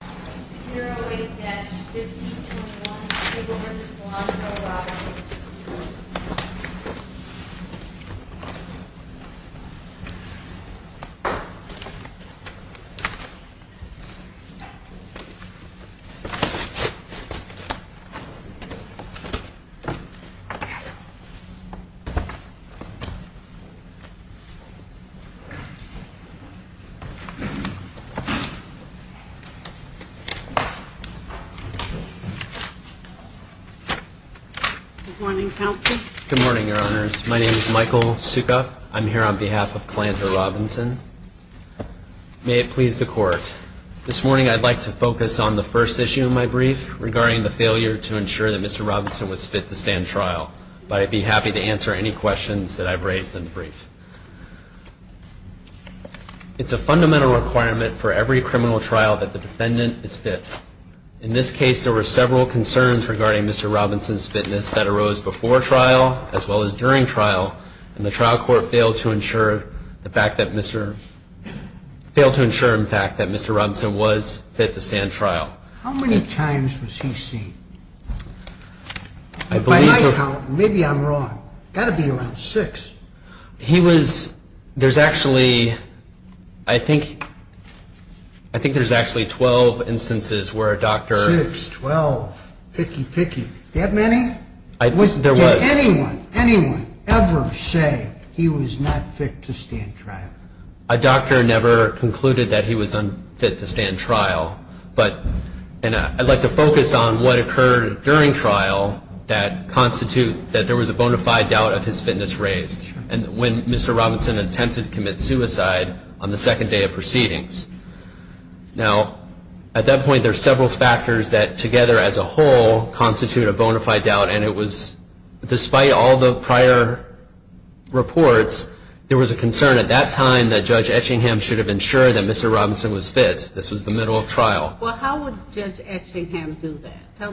08-1521, table versus velocity of the body. Good morning, Counsel. Good morning, Your Honors. My name is Michael Suka. I'm here on behalf of Kalanta Robinson. May it please the Court, this morning I'd like to focus on the first issue of my brief regarding the failure to ensure that Mr. Robinson was fit to stand trial. But I'd be happy to answer any questions that I've raised in the brief. It's a fundamental requirement for every criminal trial that the defendant is fit. In this case, there were several concerns regarding Mr. Robinson's fitness that arose before trial, as well as during trial, and the trial court failed to ensure, in fact, that Mr. Robinson was fit to stand trial. How many times was he seen? By my count, maybe I'm wrong. It's got to be around six. He was, there's actually, I think, I think there's actually 12 instances where a doctor... Six, 12, picky, picky. That many? Did anyone, anyone ever say he was not fit to stand trial? A doctor never concluded that he was unfit to stand trial. And I'd like to focus on what occurred during trial that constitute that there was a bona fide doubt of his fitness raised. And when Mr. Robinson attempted to commit suicide on the second day of proceedings. Now, at that point, there's several factors that together as a whole constitute a bona fide doubt, and it was, despite all the prior reports, there was a concern at that time that Judge Etchingham should have ensured that Mr. Robinson was fit. This was the middle of trial. Well, how would Judge Etchingham do that? Tell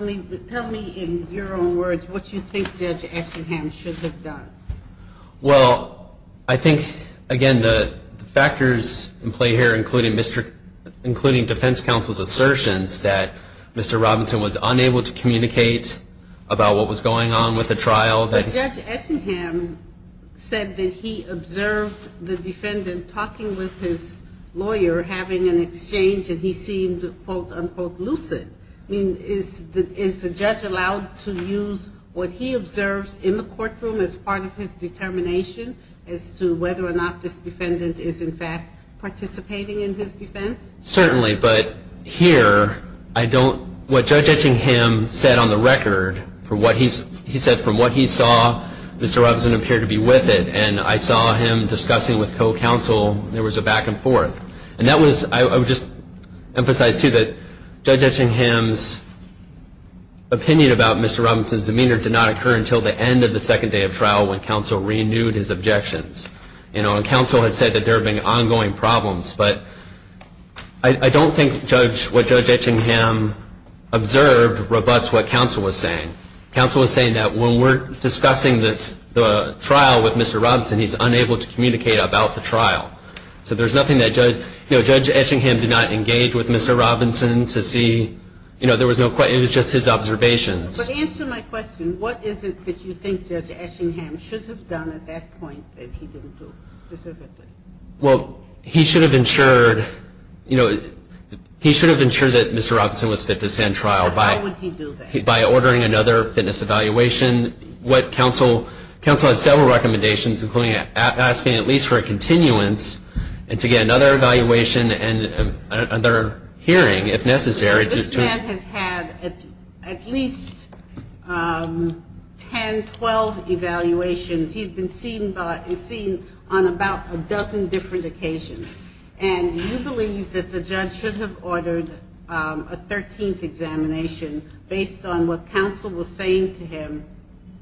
me in your own words what you think Judge Etchingham should have done. Well, I think, again, the factors in play here, including Defense Counsel's assertions that Mr. Robinson was unable to communicate about what was going on with the trial. But Judge Etchingham said that he observed the defendant talking with his lawyer, having an exchange, and he seemed, quote, unquote, lucid. I mean, is the judge allowed to use what he observes in the courtroom as part of his determination as to whether or not this defendant is, in fact, participating in his defense? Certainly. But here, what Judge Etchingham said on the record, he said from what he saw, Mr. Robinson appeared to be with it. And I saw him discussing with co-counsel, there was a back and forth. And I would just emphasize, too, that Judge Etchingham's opinion about Mr. Robinson's demeanor did not occur until the end of the second day of trial when counsel renewed his objections. And counsel had said that there had been ongoing problems. But I don't think what Judge Etchingham observed rebutts what counsel was saying. Counsel was saying that when we're discussing the trial with Mr. Robinson, he's unable to communicate about the trial. So there's nothing that Judge Etchingham did not engage with Mr. Robinson to see. It was just his observations. But answer my question, what is it that you think Judge Etchingham should have done at that point that he didn't do specifically? Well, he should have ensured, you know, he should have ensured that Mr. Robinson was fit to stand trial. Why would he do that? By ordering another fitness evaluation. Counsel had several recommendations, including asking at least for a continuance and to get another evaluation and another hearing, if necessary. This man had had at least 10, 12 evaluations. He had been seen on about a dozen different occasions. And you believe that the judge should have ordered a 13th examination based on what counsel was saying to him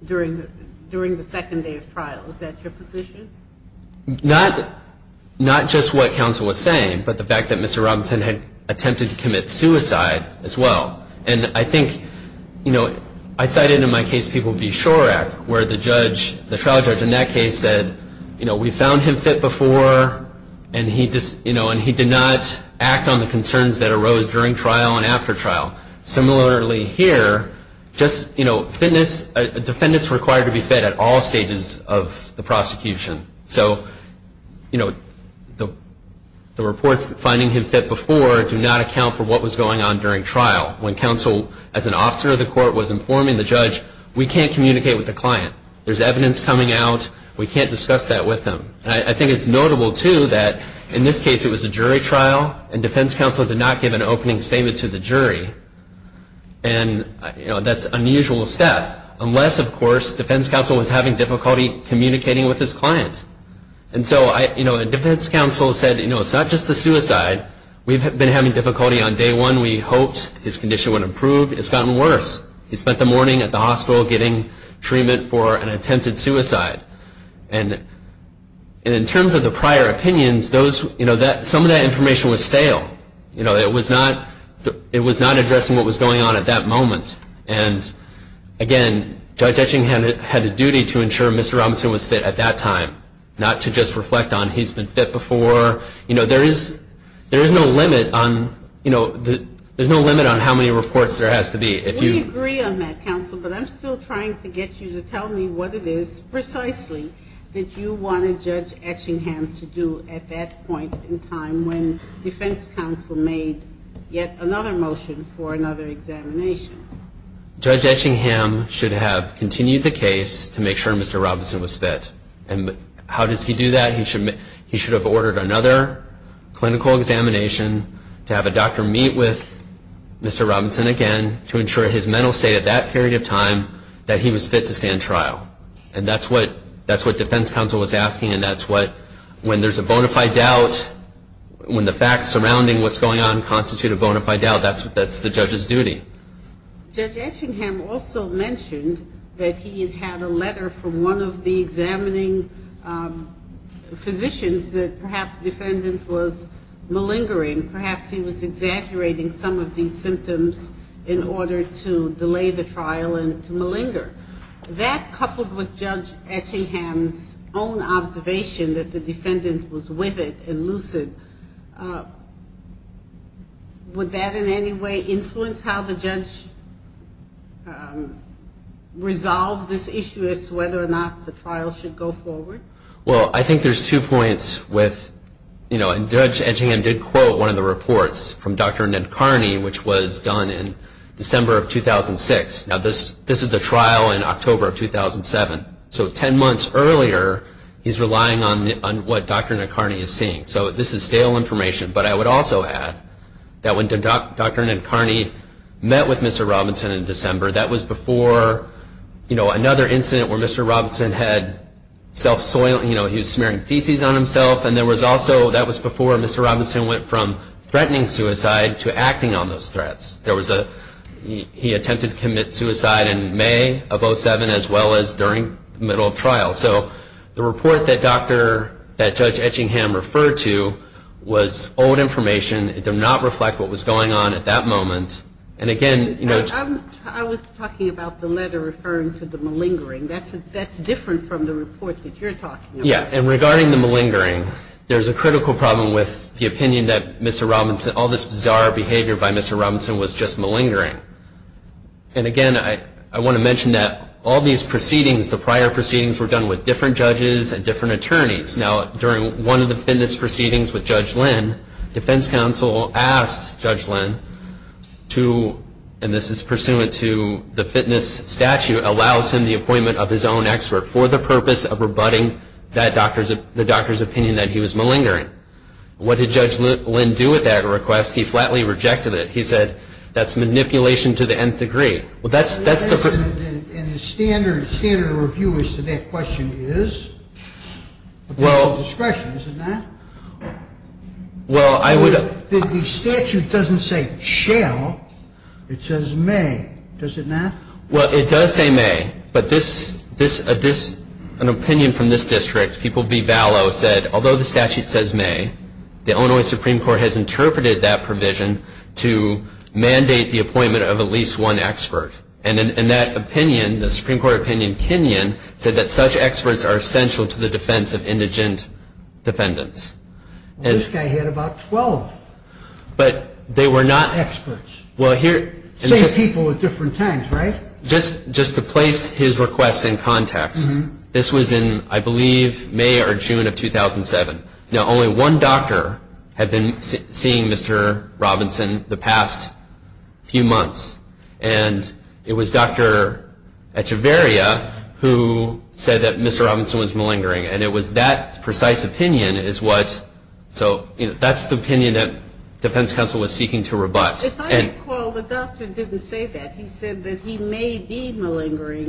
during the second day of trial. Is that your position? Not just what counsel was saying, but the fact that Mr. Robinson had attempted to commit suicide as well. And I think, you know, I cited in my case people v. Shorack where the judge, the trial judge in that case said, you know, we found him fit before and he did not act on the concerns that arose during trial and after trial. Similarly here, just, you know, fitness, defendants are required to be fit at all stages of the prosecution. So, you know, the reports finding him fit before do not account for what was going on during trial. When counsel, as an officer of the court, was informing the judge, we can't communicate with the client. There's evidence coming out, we can't discuss that with them. And I think it's notable, too, that in this case it was a jury trial and defense counsel did not give an opening statement to the jury. And, you know, that's an unusual step. Unless, of course, defense counsel was having difficulty communicating with his client. And so, you know, defense counsel said, you know, it's not just the suicide. We've been having difficulty on day one. We hoped his condition would improve. It's gotten worse. He spent the morning at the hospital getting treatment for an attempted suicide. And in terms of the prior opinions, those, you know, some of that information was stale. You know, it was not addressing what was going on at that moment. And again, Judge Etchingham had a duty to ensure Mr. Robinson was fit at that time, not to just reflect on he's been fit before. You know, there is no limit on, you know, there's no limit on how many reports there has to be. We agree on that, counsel, but I'm still trying to get you to tell me what it is precisely that you wanted Judge Etchingham to do at that point in time when defense counsel made yet another motion for another examination. Judge Etchingham should have continued the case to make sure Mr. Robinson was fit. And how does he do that? He should have ordered another clinical examination to have a doctor meet with Mr. Robinson again to ensure his mental state at that period of time that he was fit to stand trial. And that's what defense counsel was asking, and that's what, when there's a bona fide doubt, when the facts surrounding what's going on constitute a bona fide doubt, that's the judge's duty. Judge Etchingham also mentioned that he had a letter from one of the examining physicians that perhaps defendant was malingering. Perhaps he was exaggerating some of these symptoms in order to delay the trial and to malinger. That, coupled with Judge Etchingham's own observation that the defendant was with it and lucid, would that in any way influence how the judge resolved this issue as to whether or not the trial should go forward? Well, I think there's two points with, you know, and Judge Etchingham did quote one of the reports from Dr. Nadkarni, which was done in December of 2006. Now, this is the trial in October of 2007. So 10 months earlier, he's relying on what Dr. Nadkarni is seeing. So this is stale information, but I would also add that when Dr. Nadkarni met with Mr. Robinson in December, that was before, you know, another incident where Mr. Robinson had self-soiling, you know, he was smearing feces on himself. And there was also, that was before Mr. Robinson went from threatening suicide to acting on those threats. There was a, he attempted to commit suicide in May of 2007, as well as during the middle of trial. So the report that Dr., that Judge Etchingham referred to was old information. It did not reflect what was going on at that moment. I was talking about the letter referring to the malingering. That's different from the report that you're talking about. Yeah, and regarding the malingering, there's a critical problem with the opinion that Mr. Robinson, all this bizarre behavior by Mr. Robinson was just malingering. And again, I want to mention that all these proceedings, the prior proceedings, were done with different judges and different attorneys. Now, during one of the fitness proceedings with Judge Lynn, defense counsel asked Judge Lynn to, and this is pursuant to the fitness statute, allows him the appointment of his own expert for the purpose of rebutting that doctor's, the doctor's opinion that he was malingering. What did Judge Lynn do with that request? He flatly rejected it. He said, that's manipulation to the nth degree. Well, that's the. Well, I would. Well, the statute doesn't say shall. It says may. Does it not? Well, it does say may, but this, an opinion from this district, people be valo said, although the statute says may, the Illinois Supreme Court has interpreted that provision to mandate the appointment of at least one expert. And that opinion, the Supreme Court opinion, Kinyon, said that such experts are essential to the defense of indigent defendants. This guy had about 12 experts. Same people at different times, right? Just to place his request in context, this was in, I believe, May or June of 2007. Now, only one doctor had been seeing Mr. Robinson the past few months, and it was Dr. Echevarria who said that Mr. Robinson was malingering, and it was that precise opinion is what, so, you know, that's the opinion that defense counsel was seeking to rebut. If I recall, the doctor didn't say that. He said that he may be malingering,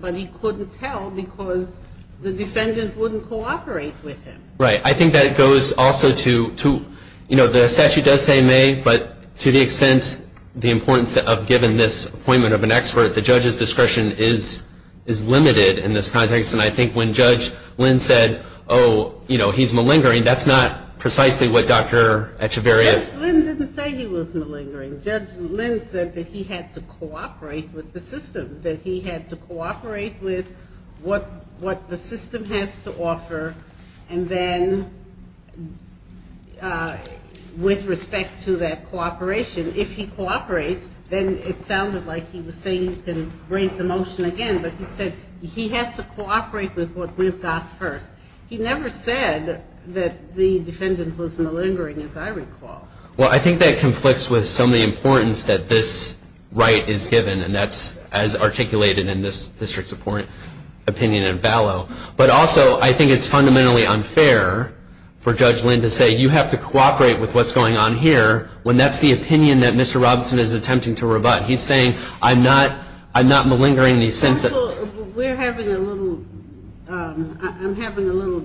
but he couldn't tell because the defendant wouldn't cooperate with him. Right. I think that it goes also to, you know, the statute does say may, but to the extent the importance of giving this appointment of an expert, the judge's discretion is limited in this context, and I think when Judge Lynn said, oh, you know, he's malingering, that's not precisely what Dr. Echevarria. Judge Lynn didn't say he was malingering. Judge Lynn said that he had to cooperate with the system, that he had to cooperate with what the system has to offer, and then with respect to that cooperation, if he cooperates, then it sounded like he was saying you can raise the motion again, but he said he has to cooperate with what we've got first. He never said that the defendant was malingering, as I recall. Well, I think that conflicts with some of the importance that this right is given, and that's as articulated in this district's opinion in Ballot, but also I think it's fundamentally unfair for Judge Lynn to say you have to cooperate with what's going on here when that's the opinion that Mr. Robinson is attempting to rebut. He's saying I'm not malingering. I'm having a little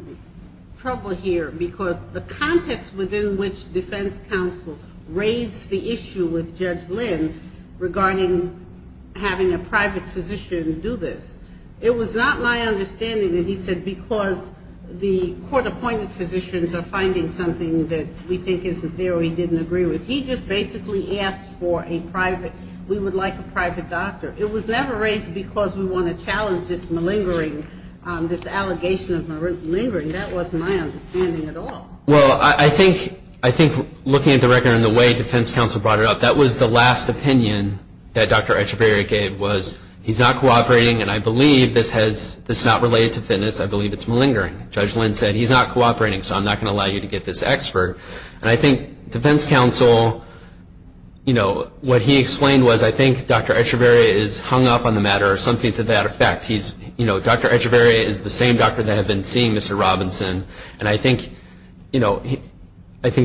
trouble here because the context within which defense counsel raised the issue with Judge Lynn regarding having a private physician do this, it was not my understanding that he said because the court-appointed physicians are finding something that we think isn't there or he didn't agree with. He just basically asked for a private, we would like a private doctor. It was never raised because we want to challenge this malingering, this allegation of malingering. That wasn't my understanding at all. Well, I think looking at the record and the way defense counsel brought it up, that was the last opinion that Dr. Echevarria gave was he's not cooperating, and I believe this is not related to fitness, I believe it's malingering. Judge Lynn said he's not cooperating, so I'm not going to allow you to get this expert. And I think defense counsel, what he explained was I think Dr. Echevarria is hung up on the matter or something to that effect. Dr. Echevarria is the same doctor that had been seeing Mr. Robinson, and I think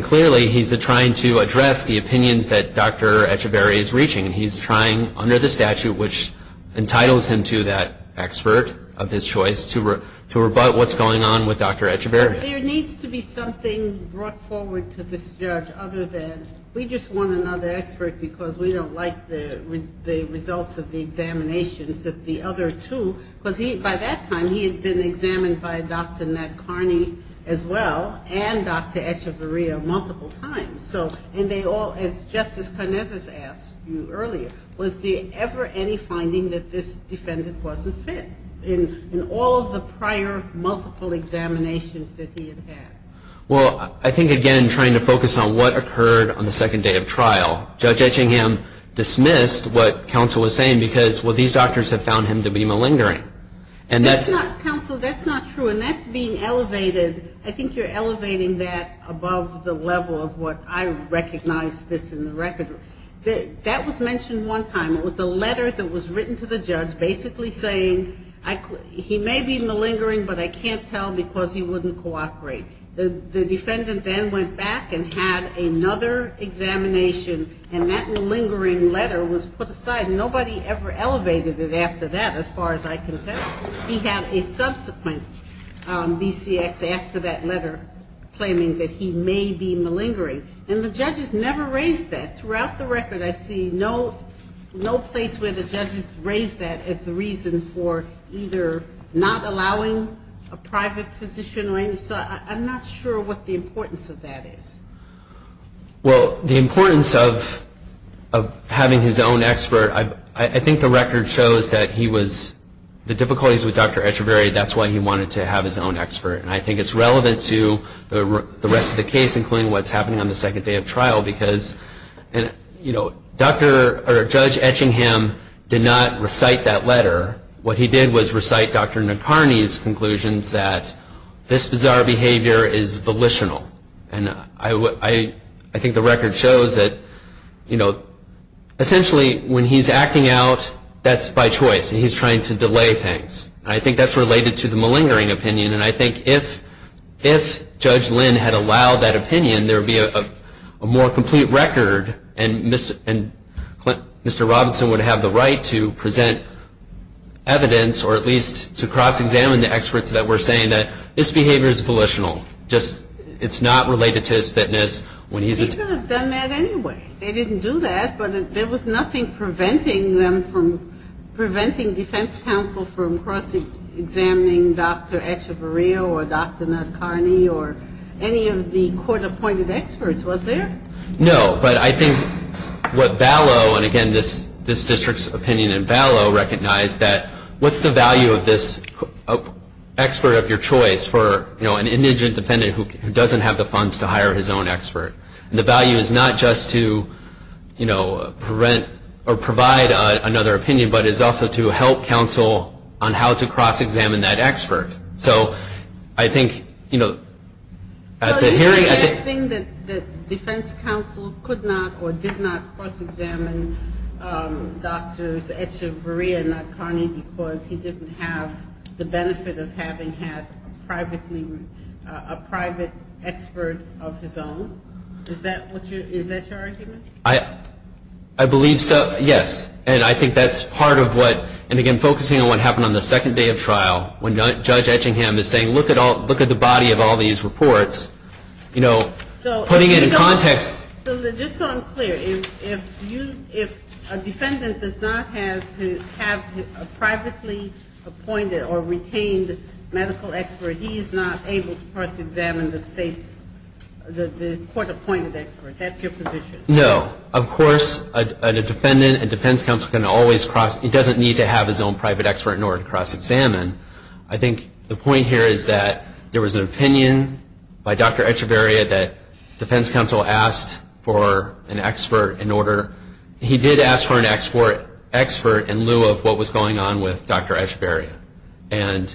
clearly he's trying to address the opinions that Dr. Echevarria is reaching, and he's trying under the statute, which entitles him to that expert of his choice, to rebut what's going on with Dr. Echevarria. There needs to be something brought forward to this judge other than we just want another expert because we don't like the results of the examinations of the other two, because by that time he had been examined by Dr. Matt Carney as well, and Dr. Echevarria multiple times. And they all, as Justice Carnez has asked you earlier, was there ever any finding that this defendant wasn't fit in all of the prior multiple examinations that he had had? Well, I think, again, trying to focus on what occurred on the second day of trial, Judge Etchingham dismissed what counsel was saying because, well, these doctors have found him to be malingering. That's not true, and that's being elevated. I think you're elevating that above the level of what I recognize this in the record. That was mentioned one time. It was a letter that was written to the judge basically saying he may be malingering, but I can't tell because he wouldn't cooperate. The defendant then went back and had another examination, and that malingering letter was put aside. Nobody ever elevated it after that, as far as I can tell. He had a subsequent BCX after that letter claiming that he may be malingering, and the judges never raised that. Throughout the record, I see no place where the judges raised that as the reason for either not allowing a private physician or anything, so I'm not sure what the importance of that is. Well, the importance of having his own expert, I think the record shows that he was, the difficulties with Dr. Etcheverry, that's why he wanted to have his own expert, and I think it's relevant to the rest of the case, including what's happening on the second day of trial, because Judge Etchingham did not recite that letter. What he did was recite Dr. Nacarny's conclusions that this bizarre behavior is volitional, and I think the record shows that essentially when he's acting out, that's by choice, and he's trying to delay things. I think that's related to the malingering opinion, and I think if Judge Lynn had allowed that opinion, there would be a more complete record, and Mr. Robinson would have the right to present evidence, or at least to cross-examine the experts that were saying that this behavior is volitional. It's not related to his fitness. He could have done that anyway. They didn't do that, but there was nothing preventing them from, preventing defense counsel from cross-examining Dr. Etcheverry or Dr. Nacarny or any of the court-appointed experts, was there? No, but I think what Ballot, and again this district's opinion in Ballot, I think we all recognize that what's the value of this expert of your choice for an indigent defendant who doesn't have the funds to hire his own expert? The value is not just to prevent or provide another opinion, but it's also to help counsel on how to cross-examine that expert. So I think at the hearing... The defense counsel could not or did not cross-examine Dr. Etcheverry or Dr. Nacarny because he didn't have the benefit of having had a private expert of his own? Is that your argument? I believe so, yes. And I think that's part of what, and again focusing on what happened on the second day of trial when Judge Etchingham is saying look at the body of all these reports, putting it in context... So just so I'm clear, if a defendant does not have a privately appointed or retained medical expert, he is not able to cross-examine the state's, the court-appointed expert, that's your position? No, of course a defendant and defense counsel can always cross... He doesn't need to have his own private expert in order to cross-examine. I think the point here is that there was an opinion by Dr. Etchevery that defense counsel asked for an expert in order... He did ask for an expert in lieu of what was going on with Dr. Etchevery. And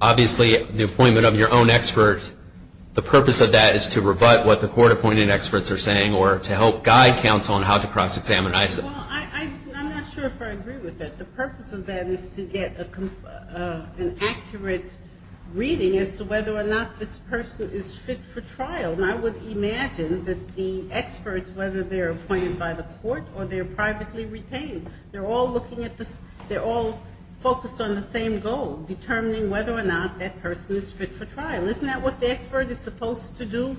obviously the appointment of your own expert, the purpose of that is to rebut what the court-appointed experts are saying or to help guide counsel on how to cross-examine. I'm not sure if I agree with that. The purpose of that is to get an accurate reading as to whether or not this person is fit for trial. And I would imagine that the experts, whether they're appointed by the court or they're privately retained, they're all looking at this, they're all focused on the same goal, determining whether or not that person is fit for trial. Isn't that what the expert is supposed to do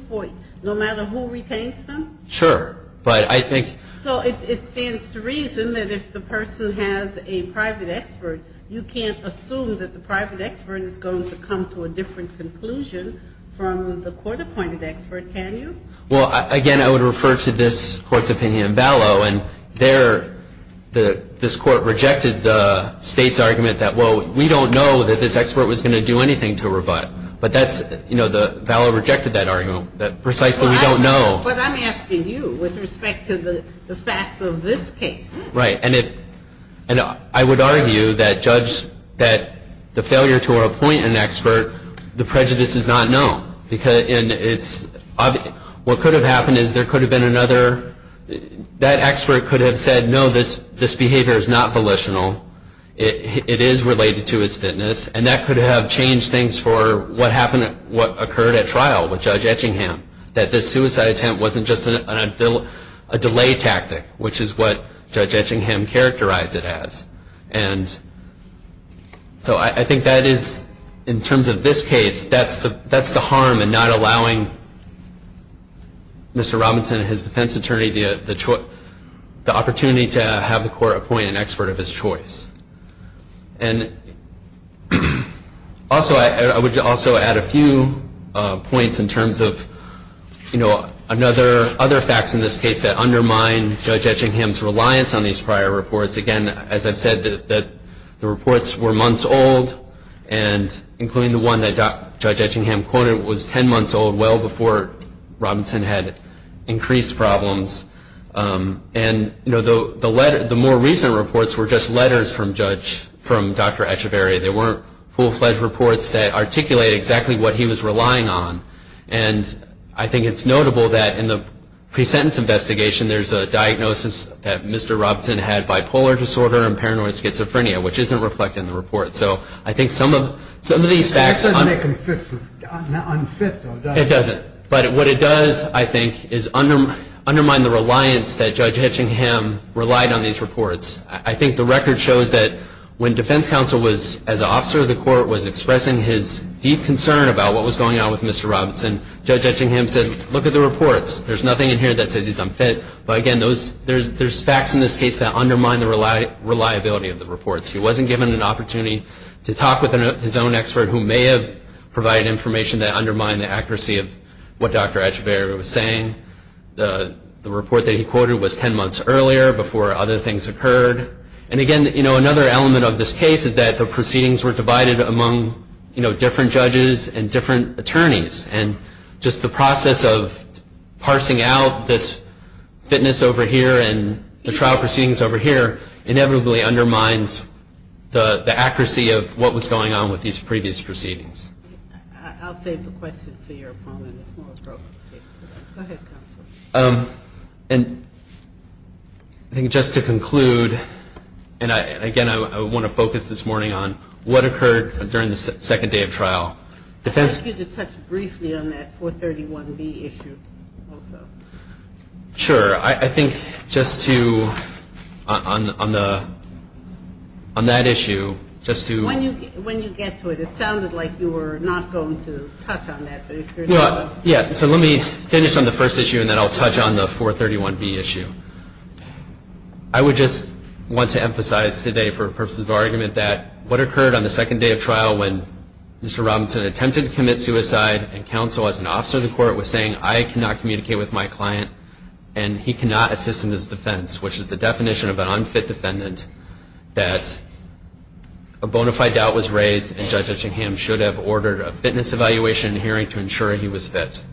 no matter who retains them? Sure, but I think... So it stands to reason that if the person has a private expert, you can't assume that the private expert is going to come to a different conclusion from the court-appointed expert, can you? Well, again, I would refer to this Court's opinion in Ballot. And this Court rejected the State's argument that, well, we don't know that this expert was going to do anything to rebut. But Ballot rejected that argument that precisely we don't know. But I'm asking you with respect to the facts of this case. Right, and I would argue that the failure to appoint an expert, the prejudice is not known. What could have happened is there could have been another... That expert could have said, no, this behavior is not volitional, it is related to his fitness, and that could have changed things for what occurred at trial with Judge Etchingham. That this suicide attempt wasn't just a delay tactic, which is what Judge Etchingham characterized it as. So I think that is, in terms of this case, that's the harm in not allowing Mr. Robinson and his defense attorney the opportunity to have the court appoint an expert of his choice. Also, I would also add a few points in terms of, you know, other facts in this case that undermine Judge Etchingham's reliance on these prior reports. Again, as I've said, the reports were months old, and including the one that Judge Etchingham quoted was 10 months old, well before Robinson had increased problems. And, you know, the more recent reports were just letters from Dr. Etcheberry. They weren't full-fledged reports that articulated exactly what he was relying on. And I think it's notable that in the pre-sentence investigation, there's a diagnosis that Mr. Robinson had bipolar disorder and paranoid schizophrenia, which isn't reflected in the report. So I think some of these facts... It doesn't. But what it does, I think, is undermine the reliance that Judge Etchingham relied on these reports. I think the record shows that when defense counsel was, as an officer of the court, was expressing his deep concern about what was going on with Mr. Robinson, Judge Etchingham said, look at the reports. There's nothing in here that says he's unfit. But again, there's facts in this case that undermine the reliability of the reports. He wasn't given an opportunity to talk with his own expert who may have provided information that undermined the accuracy of what Dr. Etcheberry was saying. The report that he quoted was 10 months earlier, before other things occurred. And again, another element of this case is that the proceedings were divided among different judges and different attorneys. And just the process of parsing out this fitness over here and the trial proceedings over here inevitably undermines the accuracy of what was going on with these previous proceedings. And I think just to conclude, and again, I want to focus this morning on what occurred during the second day of trial. I'd like you to touch briefly on that 431B issue also. Sure. I think just to, on that issue, just to When you get to it, it sounded like you were not going to touch on that. Yeah. So let me finish on the first issue and then I'll touch on the 431B issue. I would just want to emphasize today for purposes of argument that what occurred on the second day of trial when Mr. Robinson attempted to commit suicide and counsel as an officer of the court was saying, I cannot communicate with my client and he cannot assist in his defense, which is the definition of an unfit defendant, that a bona fide doubt was raised and Judge Etchingham should have ordered a fitness evaluation hearing to ensure he was fit.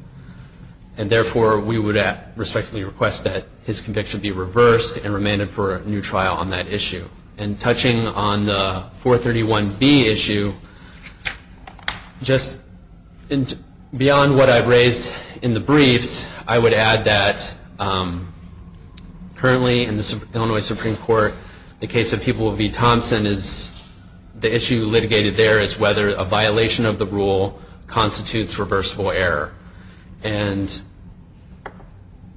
And therefore, we would respectfully request that his conviction be reversed and remanded for a new trial on that issue. And touching on the 431B issue, just beyond what I've raised in the briefs, I would add that currently in the Illinois Supreme Court, the case of People v. Thompson is, the issue litigated there is whether a violation of the rule constitutes reversible error. And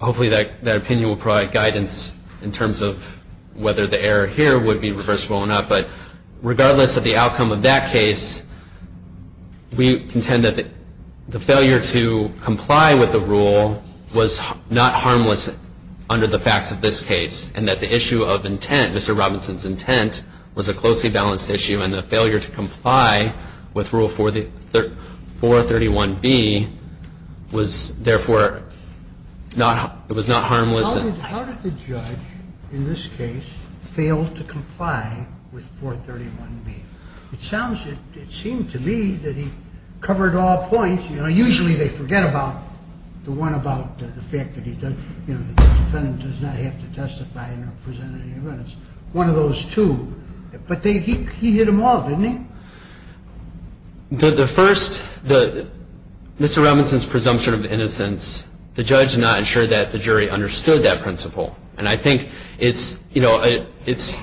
hopefully that opinion will provide guidance in terms of whether the error here would be reversible or not. But regardless of the outcome of that case, we contend that the failure to comply with the rule was not harmless under the facts of this case and that the issue of intent, Mr. Robinson's intent, was a closely balanced issue and the failure to comply with Rule 431B was therefore not, it was not harmless. How did the judge in this case fail to comply with 431B? It sounds, it seemed to me that he covered all points. You know, usually they forget about the one about the fact that he does, you know, the defendant does not have to testify in a presentative evidence. One of those two. But he hit them all, didn't he? The first, Mr. Robinson's presumption of innocence, the judge did not ensure that the jury understood that principle. And I think it's, you know, it's,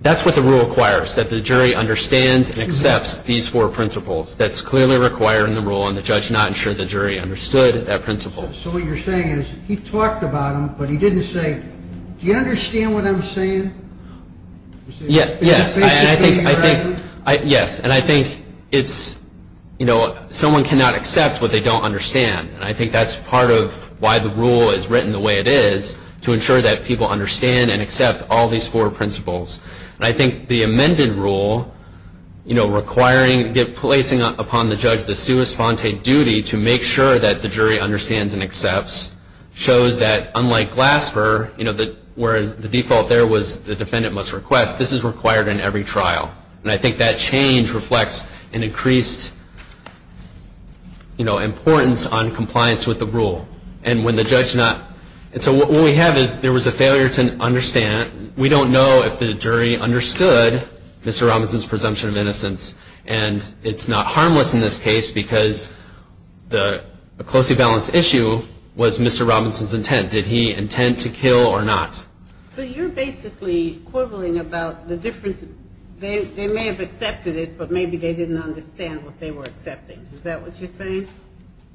that's what the rule requires, that the jury understands and accepts these four principles. That's clearly required in the rule and the judge not ensured the jury understood that principle. So what you're saying is he talked about them, but he didn't say, do you understand what I'm saying? Yes. And I think, yes, and I think it's, you know, someone cannot accept what they don't understand. And I think that's part of why the rule is written the way it is, to ensure that people understand and accept all these four principles. And I think the amended rule, you know, requiring, placing upon the judge the sua sponte duty to make sure that the jury understands and accepts, shows that unlike Glasper, you know, whereas the default there was the defendant must request, this is required in every trial. And I think that change reflects an increased, you know, importance on compliance with the rule. And when the judge not, and so what we have is there was a failure to understand, we don't know if the jury understood Mr. Robinson's presumption of innocence. And it's not harmless in this case because the closely balanced issue was Mr. Robinson's intent. Did he intend to kill or not? So you're basically quibbling about the difference, they may have accepted it, but maybe they didn't understand what they were accepting. Is that what you're saying?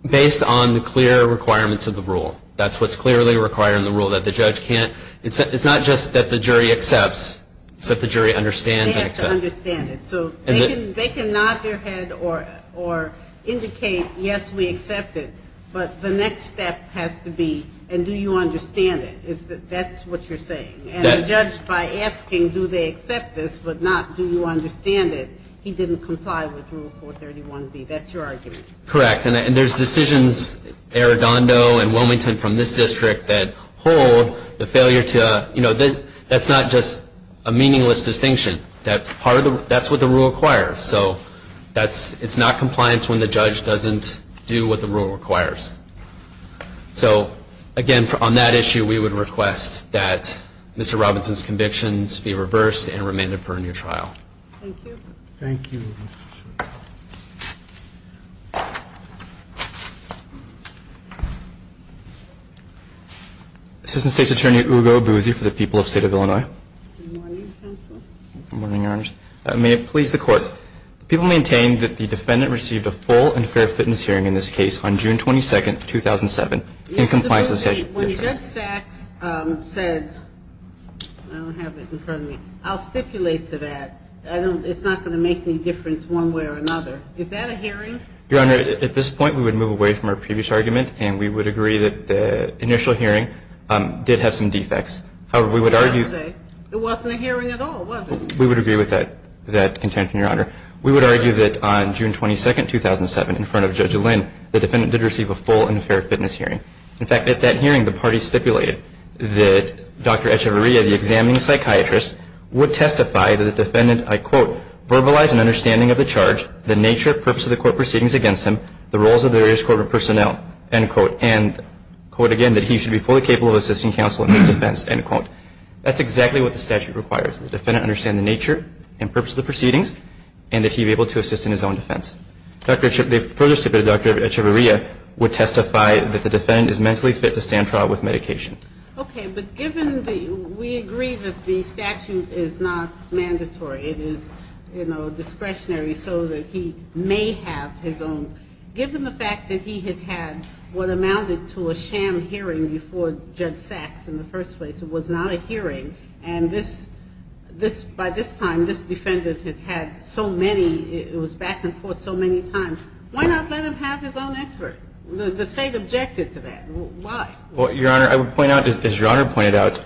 Based on the clear requirements of the rule. That's what's clearly required in the rule, that the judge can't, it's not just that the jury accepts, it's that the jury understands and accepts. They understand it. So they can nod their head or indicate, yes, we accept it, but the next step has to be, and do you understand it? That's what you're saying. And the judge, by asking do they accept this but not do you understand it, he didn't comply with Rule 431B. That's your argument. Correct. And there's decisions, Arredondo and Wilmington from this district that hold the failure to, you know, that's not just a meaningless distinction. That's what the rule requires. So it's not compliance when the judge doesn't do what the rule requires. So, again, on that issue, we would request that Mr. Robinson's convictions be reversed and remanded for a new trial. Thank you. Thank you. Assistant State's Attorney Ugo Abuzi for the people of the State of Illinois. Good morning, counsel. Good morning, Your Honors. May it please the Court, the people maintain that the defendant received a full and fair fitness hearing in this case on June 22, 2007 in compliance with the statute. When Judge Sachs said, I don't have it in front of me, I'll stipulate to that. It's not going to make any difference one way or another. Is that a hearing? Your Honor, at this point, we would move away from our previous argument, and we would agree that the initial hearing did have some defects. However, we would argue. It wasn't a hearing at all, was it? We would agree with that intent, Your Honor. We would argue that on June 22, 2007, in front of Judge Lynn, the defendant did receive a full and fair fitness hearing. In fact, at that hearing, the parties stipulated that Dr. Echevarria, the examining psychiatrist, would testify that the defendant, I quote, verbalized an understanding of the charge, the nature, purpose of the court proceedings against him, the roles of various corporate personnel, end quote, and quote again, that he should be fully capable of assisting counsel in his defense, end quote. That's exactly what the statute requires, the defendant understand the nature and purpose of the proceedings, and that he be able to assist in his own defense. Dr. Echevarria would testify that the defendant is mentally fit to stand trial with medication. Okay. But given the we agree that the statute is not mandatory. It is, you know, discretionary so that he may have his own. Given the fact that he had had what amounted to a sham hearing before Judge Sachs in the first place, it was not a hearing, and this, this, by this time, this defendant had had so many, it was back and forth so many times. Why not let him have his own expert? The State objected to that. Why? Well, Your Honor, I would point out, as Your Honor pointed out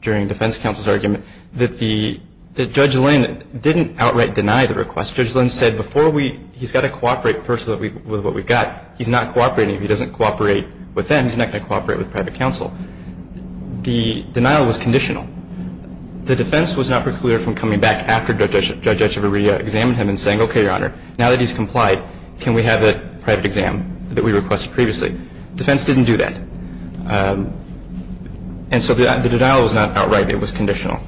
during defense counsel's argument, that the, that Judge Lynn didn't outright deny the request. Judge Lynn said before we, he's got to cooperate first with what we've got. He's not cooperating. If he doesn't cooperate with them, he's not going to cooperate with private counsel. The denial was conditional. The defense was not precluded from coming back after Judge Echevarria examined him and saying, okay, Your Honor, now that he's complied, can we have a private exam that we requested previously? Defense didn't do that. And so the denial was not outright. It was conditional.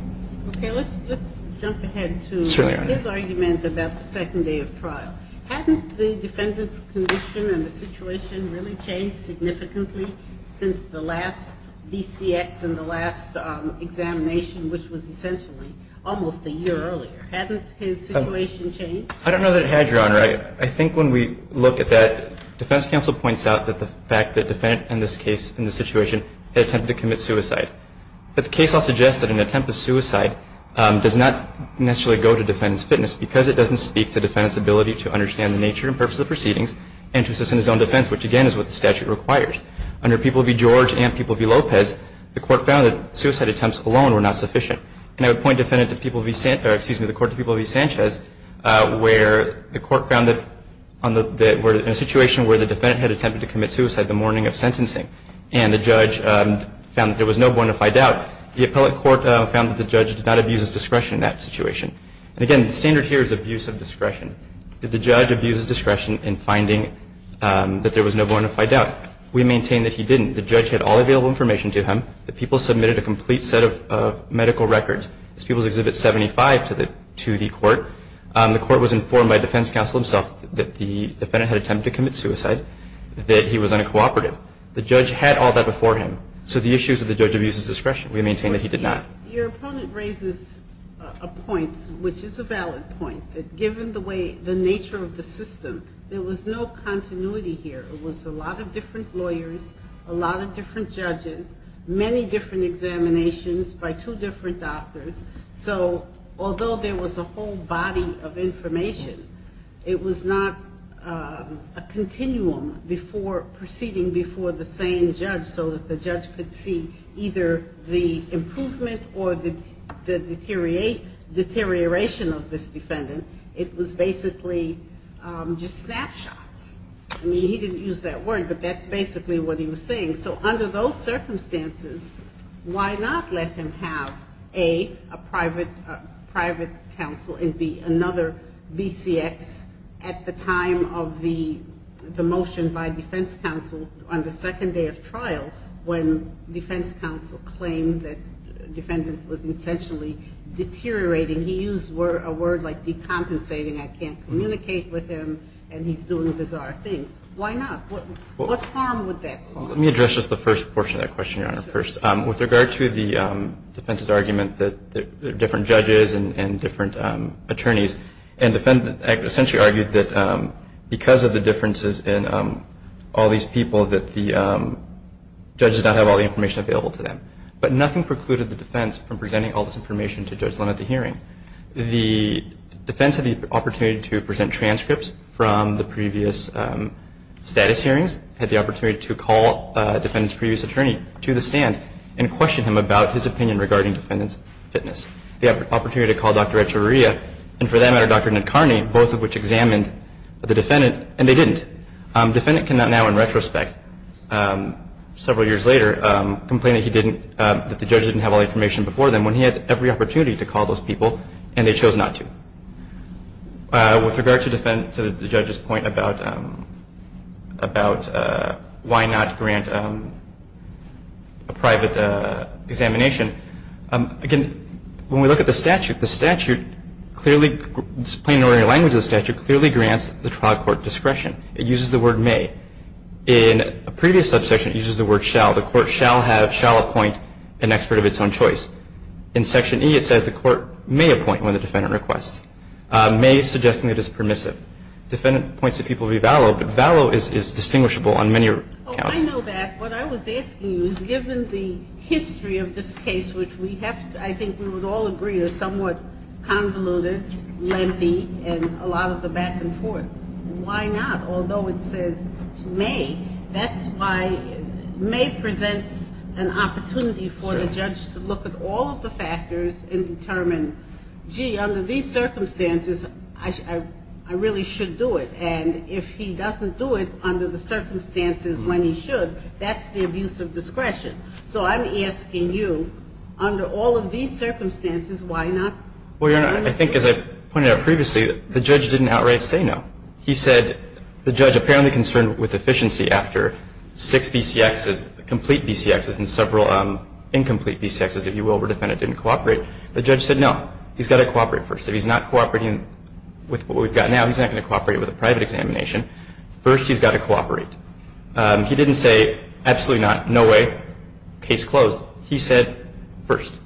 Okay. Let's, let's jump ahead to his argument about the second day of trial. Hadn't the defendant's condition and the situation really changed significantly since the last BCX and the last examination, which was essentially almost a year earlier? Hadn't his situation changed? I don't know that it had, Your Honor. I think when we look at that, defense counsel points out that the fact that the defendant in this case, in this situation, had attempted to commit suicide. But the case law suggests that an attempt at suicide does not necessarily go to defendant's fitness, because it doesn't speak to defendant's ability to understand the nature and purpose of the proceedings and to assist in his own defense, which, again, is what the statute requires. Under People v. George and People v. Lopez, the court found that suicide attempts alone were not sufficient. And I would point defendant to People v. Sanchez, where the court found that in a situation where the defendant had attempted to commit suicide the morning of sentencing and the judge found that there was no bonafide doubt, the appellate court found that the judge did not abuse his discretion in that situation. And, again, the standard here is abuse of discretion. Did the judge abuse his discretion in finding that there was no bonafide doubt? We maintain that he didn't. The judge had all available information to him. The People submitted a complete set of medical records. It's People's Exhibit 75 to the court. The court was informed by defense counsel himself that the defendant had attempted to commit suicide, that he was on a cooperative. The judge had all that before him. So the issue is that the judge abuses discretion. We maintain that he did not. Your opponent raises a point, which is a valid point, that given the nature of the system, there was no continuity here. It was a lot of different lawyers, a lot of different judges, many different examinations by two different doctors. So although there was a whole body of information, it was not a continuum preceding before the same judge so that the judge could see either the improvement or the deterioration of this defendant. It was basically just snapshots. I mean, he didn't use that word, but that's basically what he was saying. So under those circumstances, why not let him have, A, a private counsel, and, B, another BCX at the time of the motion by defense counsel on the second day of trial, when defense counsel claimed that the defendant was essentially deteriorating. He used a word like decompensating. I can't communicate with him, and he's doing bizarre things. Why not? What harm would that cause? Let me address just the first portion of that question, Your Honor, first. With regard to the defense's argument that there are different judges and different attorneys, and the defendant essentially argued that because of the differences in all these people, that the judges did not have all the information available to them. But nothing precluded the defense from presenting all this information to Judge Linn at the hearing. The defense had the opportunity to present transcripts from the previous status hearings, had the opportunity to call a defendant's previous attorney to the stand and question him about his opinion regarding defendant's fitness. They had the opportunity to call Dr. Echiriria and, for that matter, Dr. Nidkarni, both of which examined the defendant, and they didn't. The defendant can now, in retrospect, several years later, complain that the judges didn't have all the information before them when he had every opportunity to call those people, and they chose not to. With regard to the judge's point about why not grant a private examination, again, when we look at the statute, the statute clearly, this plain and ordinary language of the statute clearly grants the trial court discretion. It uses the word may. In a previous subsection, it uses the word shall. The court shall have, shall appoint an expert of its own choice. In Section E, it says the court may appoint when the defendant requests. May is suggesting that it's permissive. Defendant points to people who vallow, but vallow is distinguishable on many accounts. I know that. What I was asking you is given the history of this case, which we have, I think we would all agree, is somewhat convoluted, lengthy, and a lot of the back and forth, why not? Although it says may, that's why may presents an opportunity for the judge to look at all of the factors and determine, gee, under these circumstances, I really should do it. And if he doesn't do it under the circumstances when he should, that's the abuse of discretion. So I'm asking you, under all of these circumstances, why not? Well, Your Honor, I think as I pointed out previously, the judge didn't outright say no. He said the judge apparently concerned with efficiency after six BCXs, complete BCXs, and several incomplete BCXs, if you will, where the defendant didn't cooperate. The judge said no. He's got to cooperate first. If he's not cooperating with what we've got now, he's not going to cooperate with a private examination. First he's got to cooperate. He didn't say absolutely not, no way, case closed. He said first.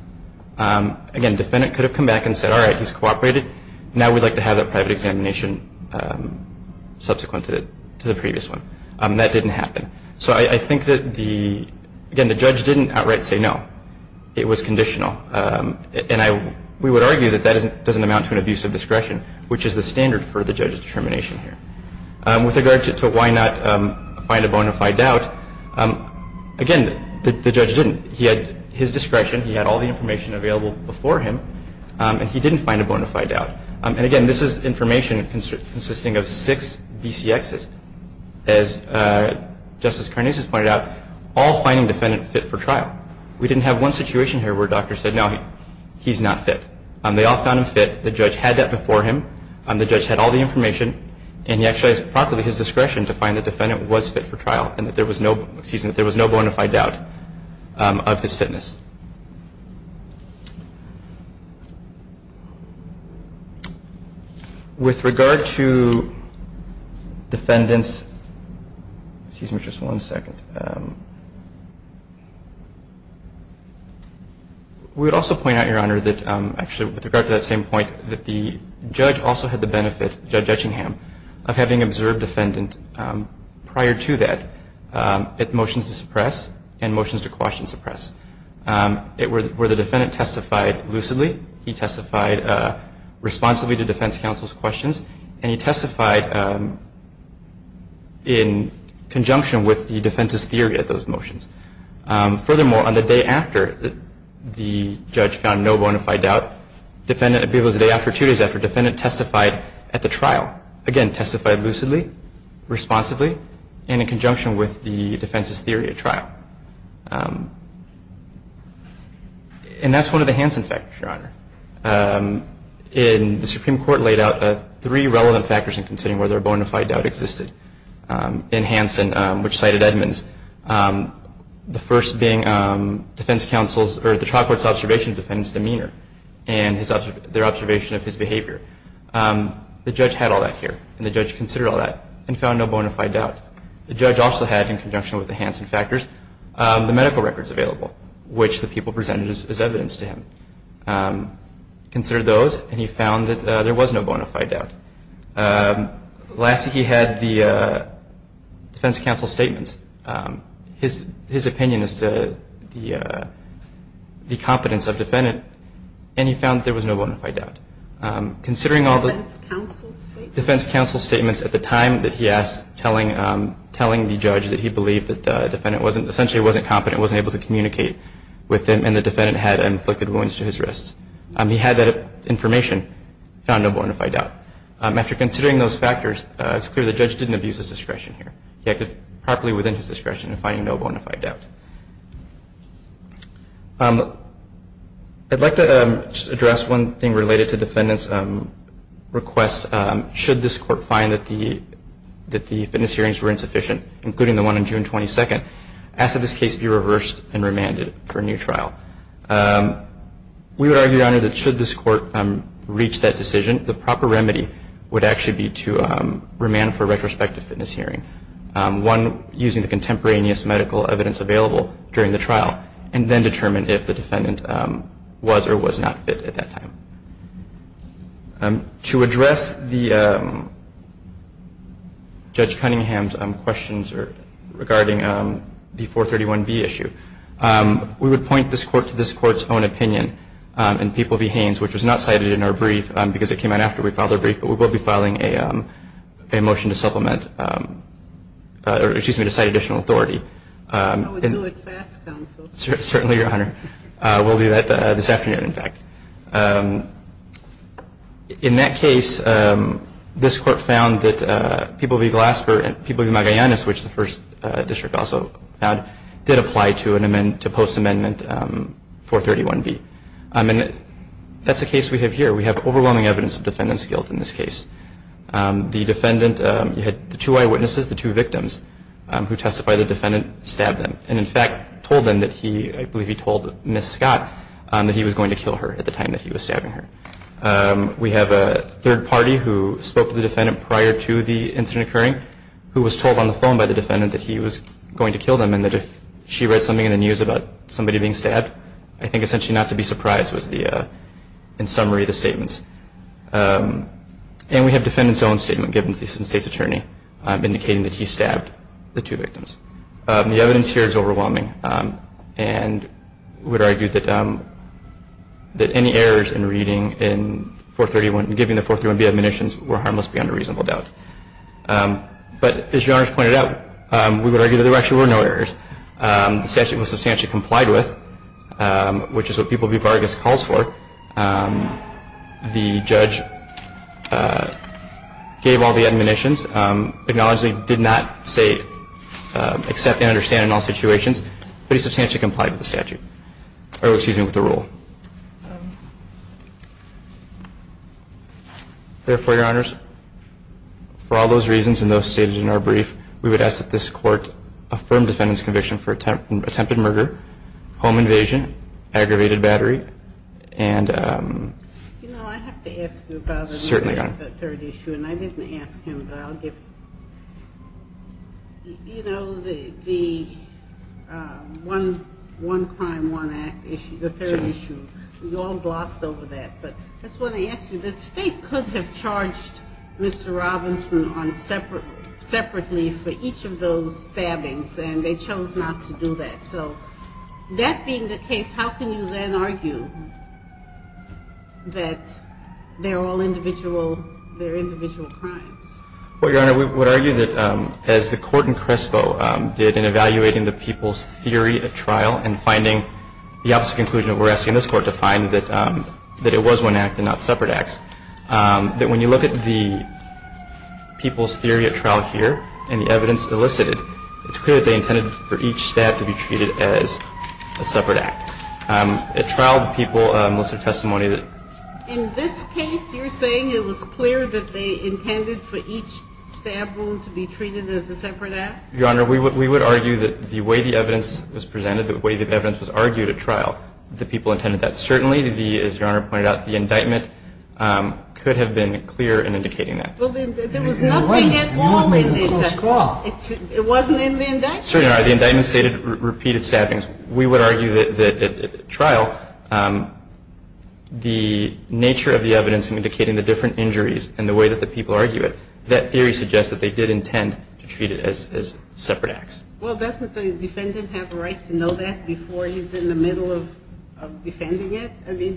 Again, the defendant could have come back and said, all right, he's cooperated. Now we'd like to have that private examination subsequent to the previous one. That didn't happen. So I think that, again, the judge didn't outright say no. It was conditional. And we would argue that that doesn't amount to an abuse of discretion, which is the standard for the judge's determination here. With regard to why not find a bona fide doubt, again, the judge didn't. He had his discretion. He had all the information available before him. And he didn't find a bona fide doubt. And, again, this is information consisting of six BCXs. As Justice Karnes has pointed out, all finding defendants fit for trial. We didn't have one situation here where a doctor said, no, he's not fit. They all found him fit. The judge had that before him. The judge had all the information. And he exercised properly his discretion to find the defendant was fit for trial and that there was no bona fide doubt of his fitness. With regard to defendants, excuse me just one second. We would also point out, Your Honor, that actually with regard to that same point, that the judge also had the benefit, Judge Etchingham, of having observed defendant prior to that at motions to suppress and motions to quash and suppress. Where the defendant testified lucidly. He testified responsibly to defense counsel's questions. And he testified in conjunction with the defense's theory at those motions. Furthermore, on the day after the judge found no bona fide doubt, it was the day after, two days after, defendant testified at the trial. Again, testified lucidly, responsibly, and in conjunction with the defense's theory at trial. And that's one of the Hansen factors, Your Honor. In the Supreme Court laid out three relevant factors in considering whether a bona fide doubt existed. In Hansen, which cited Edmonds, the first being defense counsel's, or the trial court's observation of defendant's demeanor and their observation of his behavior. The judge had all that here. And the judge considered all that and found no bona fide doubt. The judge also had, in conjunction with the Hansen factors, the medical records available, which the people presented as evidence to him. Considered those, and he found that there was no bona fide doubt. Lastly, he had the defense counsel's statements, his opinion as to the competence of defendant, and he found that there was no bona fide doubt. Considering all the defense counsel's statements at the time that he asked, telling the judge that he believed that the defendant wasn't, essentially wasn't competent, wasn't able to communicate with him, and the defendant had inflicted wounds to his wrists. He had that information, found no bona fide doubt. After considering those factors, it's clear the judge didn't abuse his discretion here. He acted properly within his discretion in finding no bona fide doubt. I'd like to just address one thing related to defendant's request. Should this court find that the fitness hearings were insufficient, including the one on June 22nd, ask that this case be reversed and remanded for a new trial. We would argue, Your Honor, that should this court reach that decision, the proper remedy would actually be to remand for retrospective fitness hearing. One, using the contemporaneous medical evidence available during the trial, and then determine if the defendant was or was not fit at that time. To address the Judge Cunningham's questions regarding the 431B issue, we would point this court to this court's own opinion in People v. Haynes, which was not cited in our brief because it came out after we filed our brief, but we will be filing a motion to supplement, or excuse me, to cite additional authority. I would do it fast, counsel. Certainly, Your Honor. We'll do that this afternoon, in fact. In that case, this court found that People v. Glasper and People v. Magallanes, which the first district also found, did apply to post-amendment 431B. And that's the case we have here. We have overwhelming evidence of defendant's guilt in this case. The defendant had two eyewitnesses, the two victims, who testified the defendant stabbed them, and in fact told them that he, I believe he told Ms. Scott, that he was going to kill her. At the time that he was stabbing her. We have a third party who spoke to the defendant prior to the incident occurring, who was told on the phone by the defendant that he was going to kill them, and that if she read something in the news about somebody being stabbed, I think essentially not to be surprised was the, in summary, the statements. And we have defendant's own statement given to the Assistant State's Attorney, indicating that he stabbed the two victims. The evidence here is overwhelming. And we would argue that any errors in reading in 431, in giving the 431B admonitions were harmless beyond a reasonable doubt. But as Your Honors pointed out, we would argue that there actually were no errors. The statute was substantially complied with, which is what People v. Vargas calls for. The judge gave all the admonitions, acknowledged that he did not say accept and understand in all situations, but he substantially complied with the statute, or excuse me, with the rule. Therefore, Your Honors, for all those reasons and those stated in our brief, we would ask that this court affirm defendant's conviction for attempted murder, home invasion, aggravated battery, and certainly not. You know, I have to ask you about the third issue, and I didn't ask him, but I'll give, you know, the one crime, one act issue, the third issue. We all glossed over that. But I just want to ask you, the State could have charged Mr. Robinson on separately for each of those stabbings, and they chose not to do that. So that being the case, how can you then argue that they're all individual, they're individual crimes? Well, Your Honor, we would argue that as the court in Crespo did in evaluating the people's theory at trial and finding the opposite conclusion, we're asking this court to find that it was one act and not separate acts, that when you look at the people's theory at trial here and the evidence elicited, it's clear that they intended for each stab to be treated as a separate act. At trial, the people listed testimony that ---- In this case, you're saying it was clear that they intended for each stab wound to be treated as a separate act? Your Honor, we would argue that the way the evidence was presented, the way the evidence was argued at trial, the people intended that. Certainly, as Your Honor pointed out, the indictment could have been clear in indicating that. Well, then there was nothing at all in it that ---- It wasn't in the indictment. Certainly, Your Honor. The indictment stated repeated stabbings. We would argue that at trial the nature of the evidence in indicating the different injuries and the way that the people argue it, that theory suggests that they did intend to treat it as separate acts. Well, doesn't the defendant have a right to know that before he's in the middle of defending it? I mean,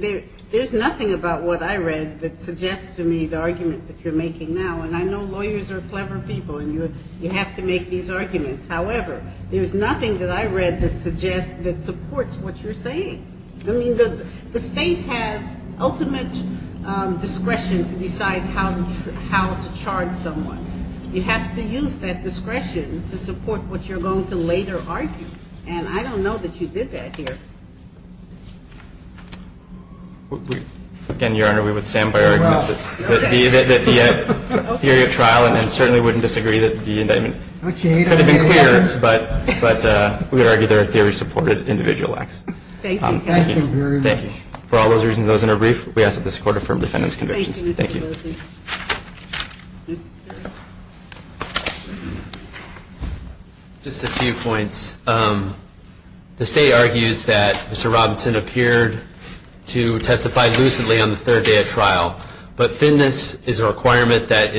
there's nothing about what I read that suggests to me the argument that you're making now. And I know lawyers are clever people and you have to make these arguments. However, there's nothing that I read that suggests that supports what you're saying. I mean, the State has ultimate discretion to decide how to charge someone. You have to use that discretion to support what you're going to later argue. And I don't know that you did that here. Again, Your Honor, we would stand by our argument. We would argue that the theory at trial and then certainly wouldn't disagree that the indictment could have been clearer, but we would argue there are theory-supported individual acts. Thank you. Thank you. For all those reasons, those in a brief, we ask that this Court affirm the defendant's convictions. Thank you. Thank you, Mr. Wilson. Just a few points. The State argues that Mr. Robinson appeared to testify lucidly on the third day of trial. But thinness is a requirement that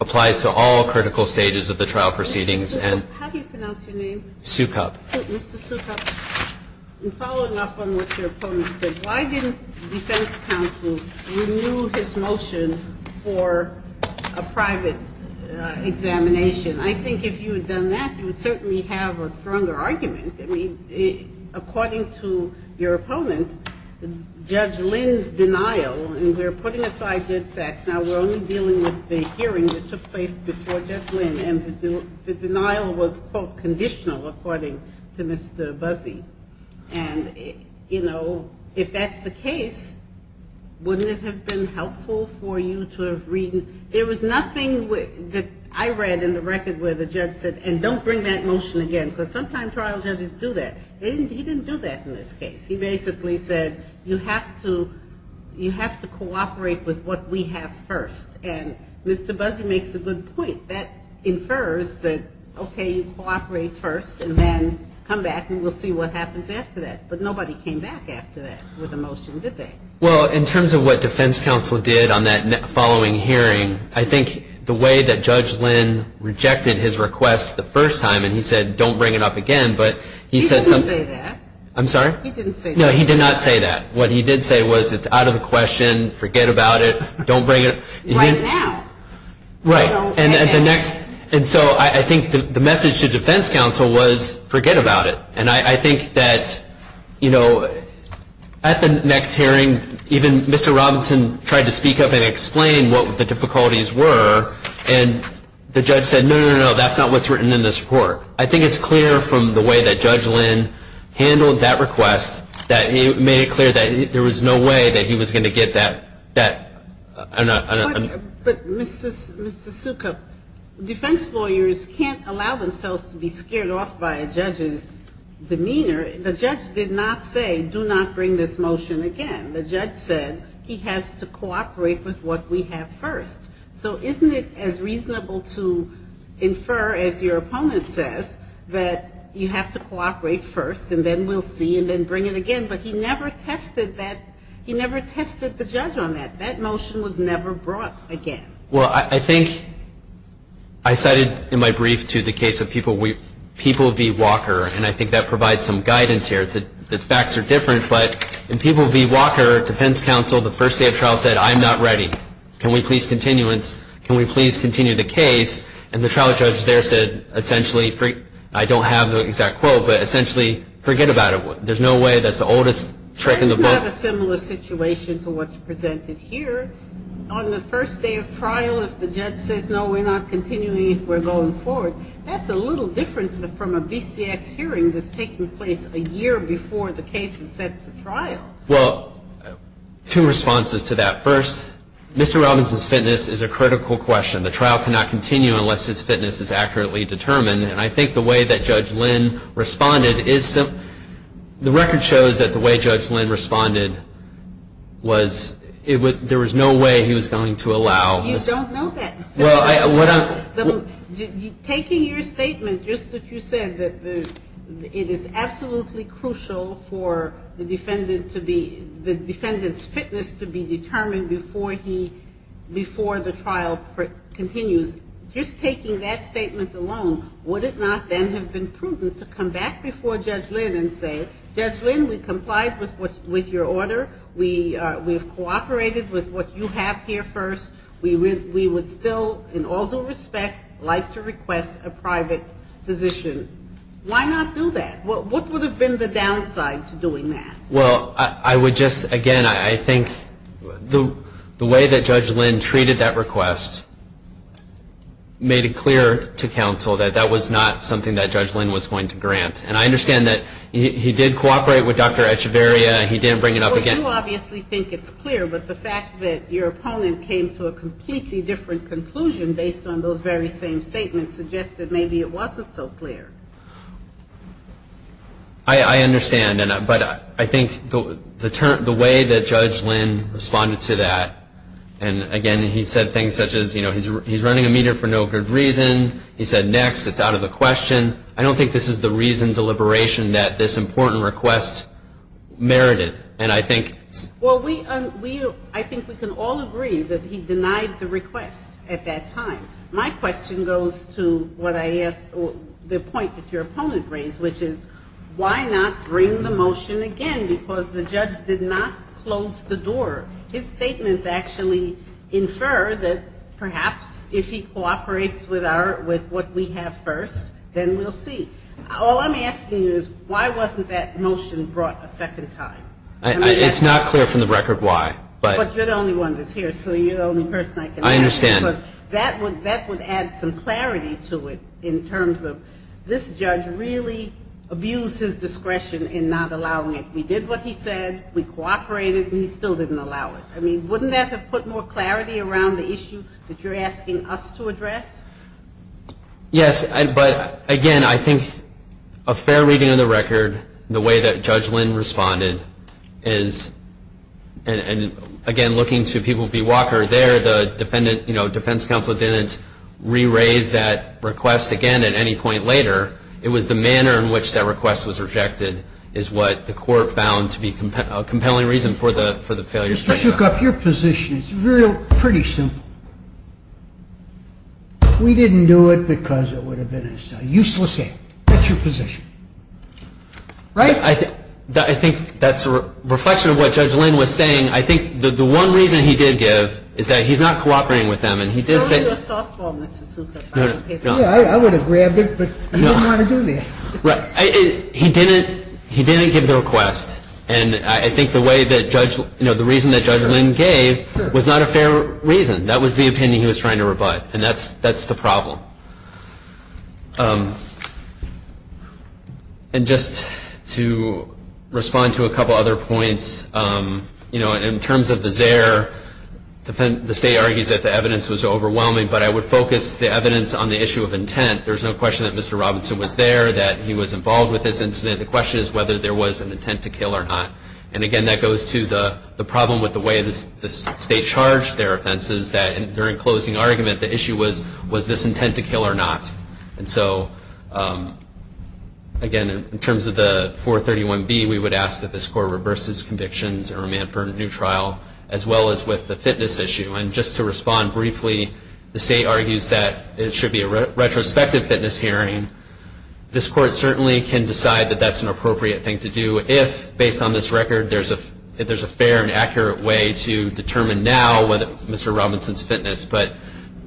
applies to all critical stages of the trial proceedings. How do you pronounce your name? Sukup. Mr. Sukup. Following up on what your opponent said, why didn't the defense counsel renew his motion for a private examination? I think if you had done that, you would certainly have a stronger argument. I mean, according to your opponent, Judge Lynn's denial, and we're putting aside Judd Sachs, now we're only dealing with the hearing that took place before Judge Lynn, and the denial was, quote, conditional, according to Mr. Buzzi. And, you know, if that's the case, wouldn't it have been helpful for you to have read? There was nothing that I read in the record where the judge said, and don't bring that motion again, because sometimes trial judges do that. He didn't do that in this case. He basically said, you have to cooperate with what we have first. And Mr. Buzzi makes a good point. That infers that, okay, you cooperate first, and then come back and we'll see what happens after that. But nobody came back after that with a motion, did they? Well, in terms of what defense counsel did on that following hearing, I think the way that Judge Lynn rejected his request the first time, and he said, don't bring it up again, but he said something. He didn't say that. I'm sorry? He didn't say that. No, he did not say that. What he did say was, it's out of the question, forget about it, don't bring it. Right now. Right. And so I think the message to defense counsel was, forget about it. And I think that, you know, at the next hearing, even Mr. Robinson tried to speak up and explain what the difficulties were, and the judge said, no, no, no, that's not what's written in this report. I think it's clear from the way that Judge Lynn handled that request that he made it clear that there was no way that he was going to get that. But, Mr. Suka, defense lawyers can't allow themselves to be scared off by a judge's demeanor. The judge did not say, do not bring this motion again. The judge said he has to cooperate with what we have first. So isn't it as reasonable to infer, as your opponent says, that you have to cooperate first, and then we'll see, and then bring it again? But he never tested that. He never tested the judge on that. That motion was never brought again. Well, I think I cited in my brief to the case of People v. Walker, and I think that provides some guidance here. The facts are different, but in People v. Walker, defense counsel the first day of trial said, I'm not ready. Can we please continue this? Can we please continue the case? And the trial judge there said, essentially, I don't have the exact quote, but essentially, forget about it. There's no way, that's the oldest trick in the book. That's not a similar situation to what's presented here. On the first day of trial, if the judge says, no, we're not continuing, we're going forward. That's a little different from a BCX hearing that's taking place a year before the case is set for trial. Well, two responses to that. First, Mr. Robinson's fitness is a critical question. The trial cannot continue unless his fitness is accurately determined, and I think the way that Judge Lynn responded is, the record shows that the way Judge Lynn responded was there was no way he was going to allow. You don't know that. Taking your statement, just as you said, that it is absolutely crucial for the defendant's fitness to be determined before the trial continues, just taking that statement alone, would it not then have been prudent to come back before Judge Lynn and say, Judge Lynn, we complied with your order. We have cooperated with what you have here first. We would still, in all due respect, like to request a private physician. Why not do that? What would have been the downside to doing that? Well, I would just, again, I think the way that Judge Lynn treated that request made it clear to counsel that that was not something that Judge Lynn was going to grant, and I understand that he did cooperate with Dr. Echevarria. He did bring it up again. You obviously think it's clear, but the fact that your opponent came to a completely different conclusion based on those very same statements suggests that maybe it wasn't so clear. I understand, but I think the way that Judge Lynn responded to that, and again, he said things such as, you know, he's running a meter for no good reason. He said, next, it's out of the question. I don't think this is the reason, deliberation that this important request merited, and I think Well, we, I think we can all agree that he denied the request at that time. My question goes to what I asked, the point that your opponent raised, which is why not bring the motion again because the judge did not close the door. His statements actually infer that perhaps if he cooperates with our, with what we have first, then we'll see. All I'm asking you is why wasn't that motion brought a second time? It's not clear from the record why. But you're the only one that's here, so you're the only person I can ask. I understand. Because that would add some clarity to it in terms of this judge really abused his discretion in not allowing it. We did what he said, we cooperated, and he still didn't allow it. I mean, wouldn't that have put more clarity around the issue that you're asking us to address? Yes. But, again, I think a fair reading of the record, the way that Judge Lynn responded is, and again, looking to people, V. Walker there, the defendant, you know, defense counsel didn't re-raise that request again at any point later. It was the manner in which that request was rejected is what the court found to be a compelling reason for the failure. Mr. Shookup, your position is pretty simple. We didn't do it because it would have been a useless act. That's your position. Right? I think that's a reflection of what Judge Lynn was saying. I think the one reason he did give is that he's not cooperating with them. I would do a softball, Mr. Shookup. I would have grabbed it, but he didn't want to do that. He didn't give the request. And I think the way that Judge Lynn, you know, the reason that Judge Lynn gave was not a fair reason. That was the opinion he was trying to rebut, and that's the problem. And just to respond to a couple other points, you know, in terms of the ZEHR, the state argues that the evidence was overwhelming, but I would focus the evidence on the issue of intent. There's no question that Mr. Robinson was there, that he was involved with this incident. The question is whether there was an intent to kill or not. And, again, that goes to the problem with the way the state charged their offenses, that during closing argument the issue was, was this intent to kill or not? And so, again, in terms of the 431B, we would ask that this court reverses convictions and remand for a new trial, as well as with the fitness issue. And just to respond briefly, the state argues that it should be a retrospective fitness hearing. This court certainly can decide that that's an appropriate thing to do if, based on this record, there's a fair and accurate way to determine now whether Mr. Robinson's fitness, but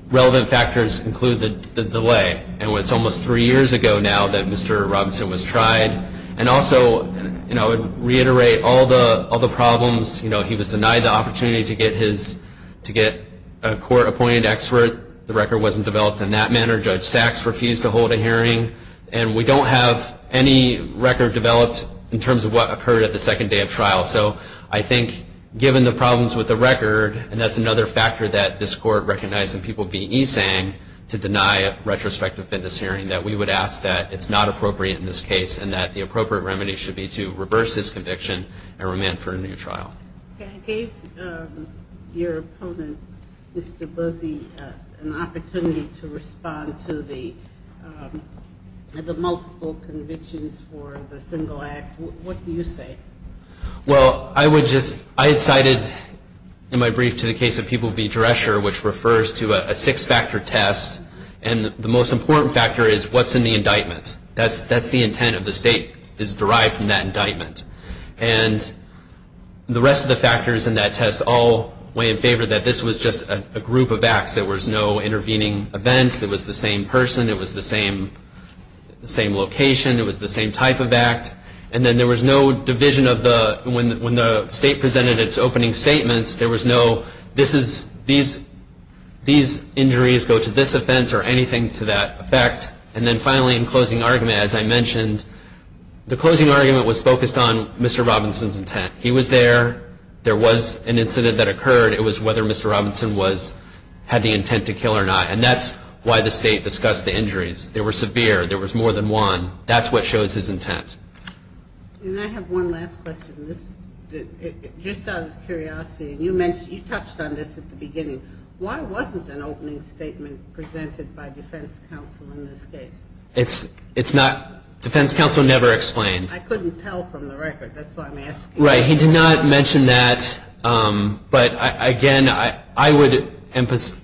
relevant factors include the delay. And it's almost three years ago now that Mr. Robinson was tried. And also, you know, I would reiterate all the problems. You know, he was denied the opportunity to get his, to get a court-appointed expert. The record wasn't developed in that manner. Judge Sachs refused to hold a hearing. And we don't have any record developed in terms of what occurred at the second day of trial. So I think, given the problems with the record, and that's another factor that this court recognized in people being e-sang to deny a retrospective fitness hearing, that we would ask that it's not appropriate in this case, and that the appropriate remedy should be to reverse his conviction and remand for a new trial. I gave your opponent, Mr. Busse, an opportunity to respond to the multiple convictions for the single act. What do you say? Well, I would just, I had cited in my brief to the case of people v. Drescher, which refers to a six-factor test. And the most important factor is what's in the indictment. That's the intent of the state is derived from that indictment. And the rest of the factors in that test all weigh in favor that this was just a group of acts. There was no intervening event. It was the same person. It was the same location. It was the same type of act. And then there was no division of the, when the state presented its opening statements, there was no, this is, these injuries go to this offense or anything to that effect. And then finally, in closing argument, as I mentioned, the closing argument was focused on Mr. Robinson's intent. He was there. There was an incident that occurred. It was whether Mr. Robinson was, had the intent to kill or not. And that's why the state discussed the injuries. They were severe. There was more than one. That's what shows his intent. And I have one last question. This, just out of curiosity, and you mentioned, you touched on this at the beginning. Why wasn't an opening statement presented by defense counsel in this case? It's not, defense counsel never explained. I couldn't tell from the record. That's why I'm asking. Right. He did not mention that. But, again, I would,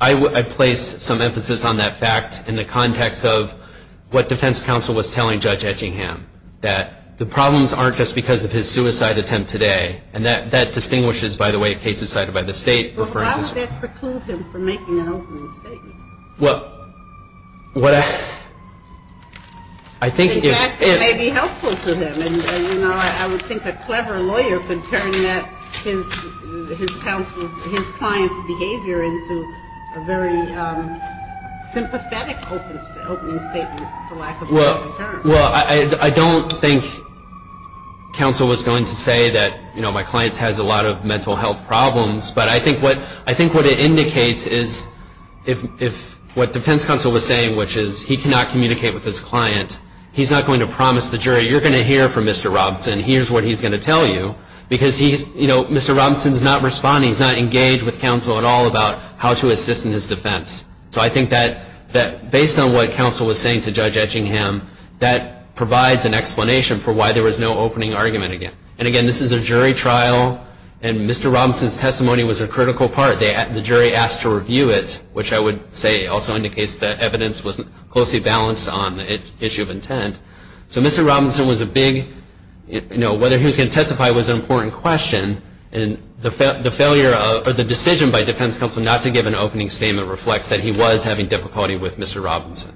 I place some emphasis on that fact in the context of what defense counsel was telling Judge Etchingham, that the problems aren't just because of his suicide attempt today. And that distinguishes, by the way, cases cited by the state. Well, why would that preclude him from making an opening statement? Well, what I, I think if. In fact, it may be helpful to him. And, you know, I would think a clever lawyer could turn that, his counsel's, his client's behavior into a very sympathetic opening statement, for lack of a better term. Well, I don't think counsel was going to say that, you know, my client has a lot of mental health problems. But I think what, I think what it indicates is if, if what defense counsel was saying, which is he cannot communicate with his client, he's not going to promise the jury, you're going to hear from Mr. Robinson, here's what he's going to tell you. Because he's, you know, Mr. Robinson's not responding. He's not engaged with counsel at all about how to assist in his defense. So I think that, that based on what counsel was saying to Judge Etchingham, that provides an explanation for why there was no opening argument again. And again, this is a jury trial. And Mr. Robinson's testimony was a critical part. The jury asked to review it, which I would say also indicates that evidence was closely balanced on the issue of intent. So Mr. Robinson was a big, you know, whether he was going to testify was an important question. And the failure of, or the decision by defense counsel not to give an opening statement reflects that he was having difficulty with Mr. Robinson.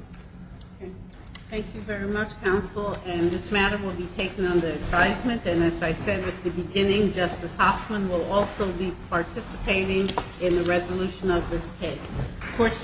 Thank you very much, counsel. And this matter will be taken under advisement. And as I said at the beginning, Justice Hoffman will also be participating in the resolution of this case. Court's adjourned.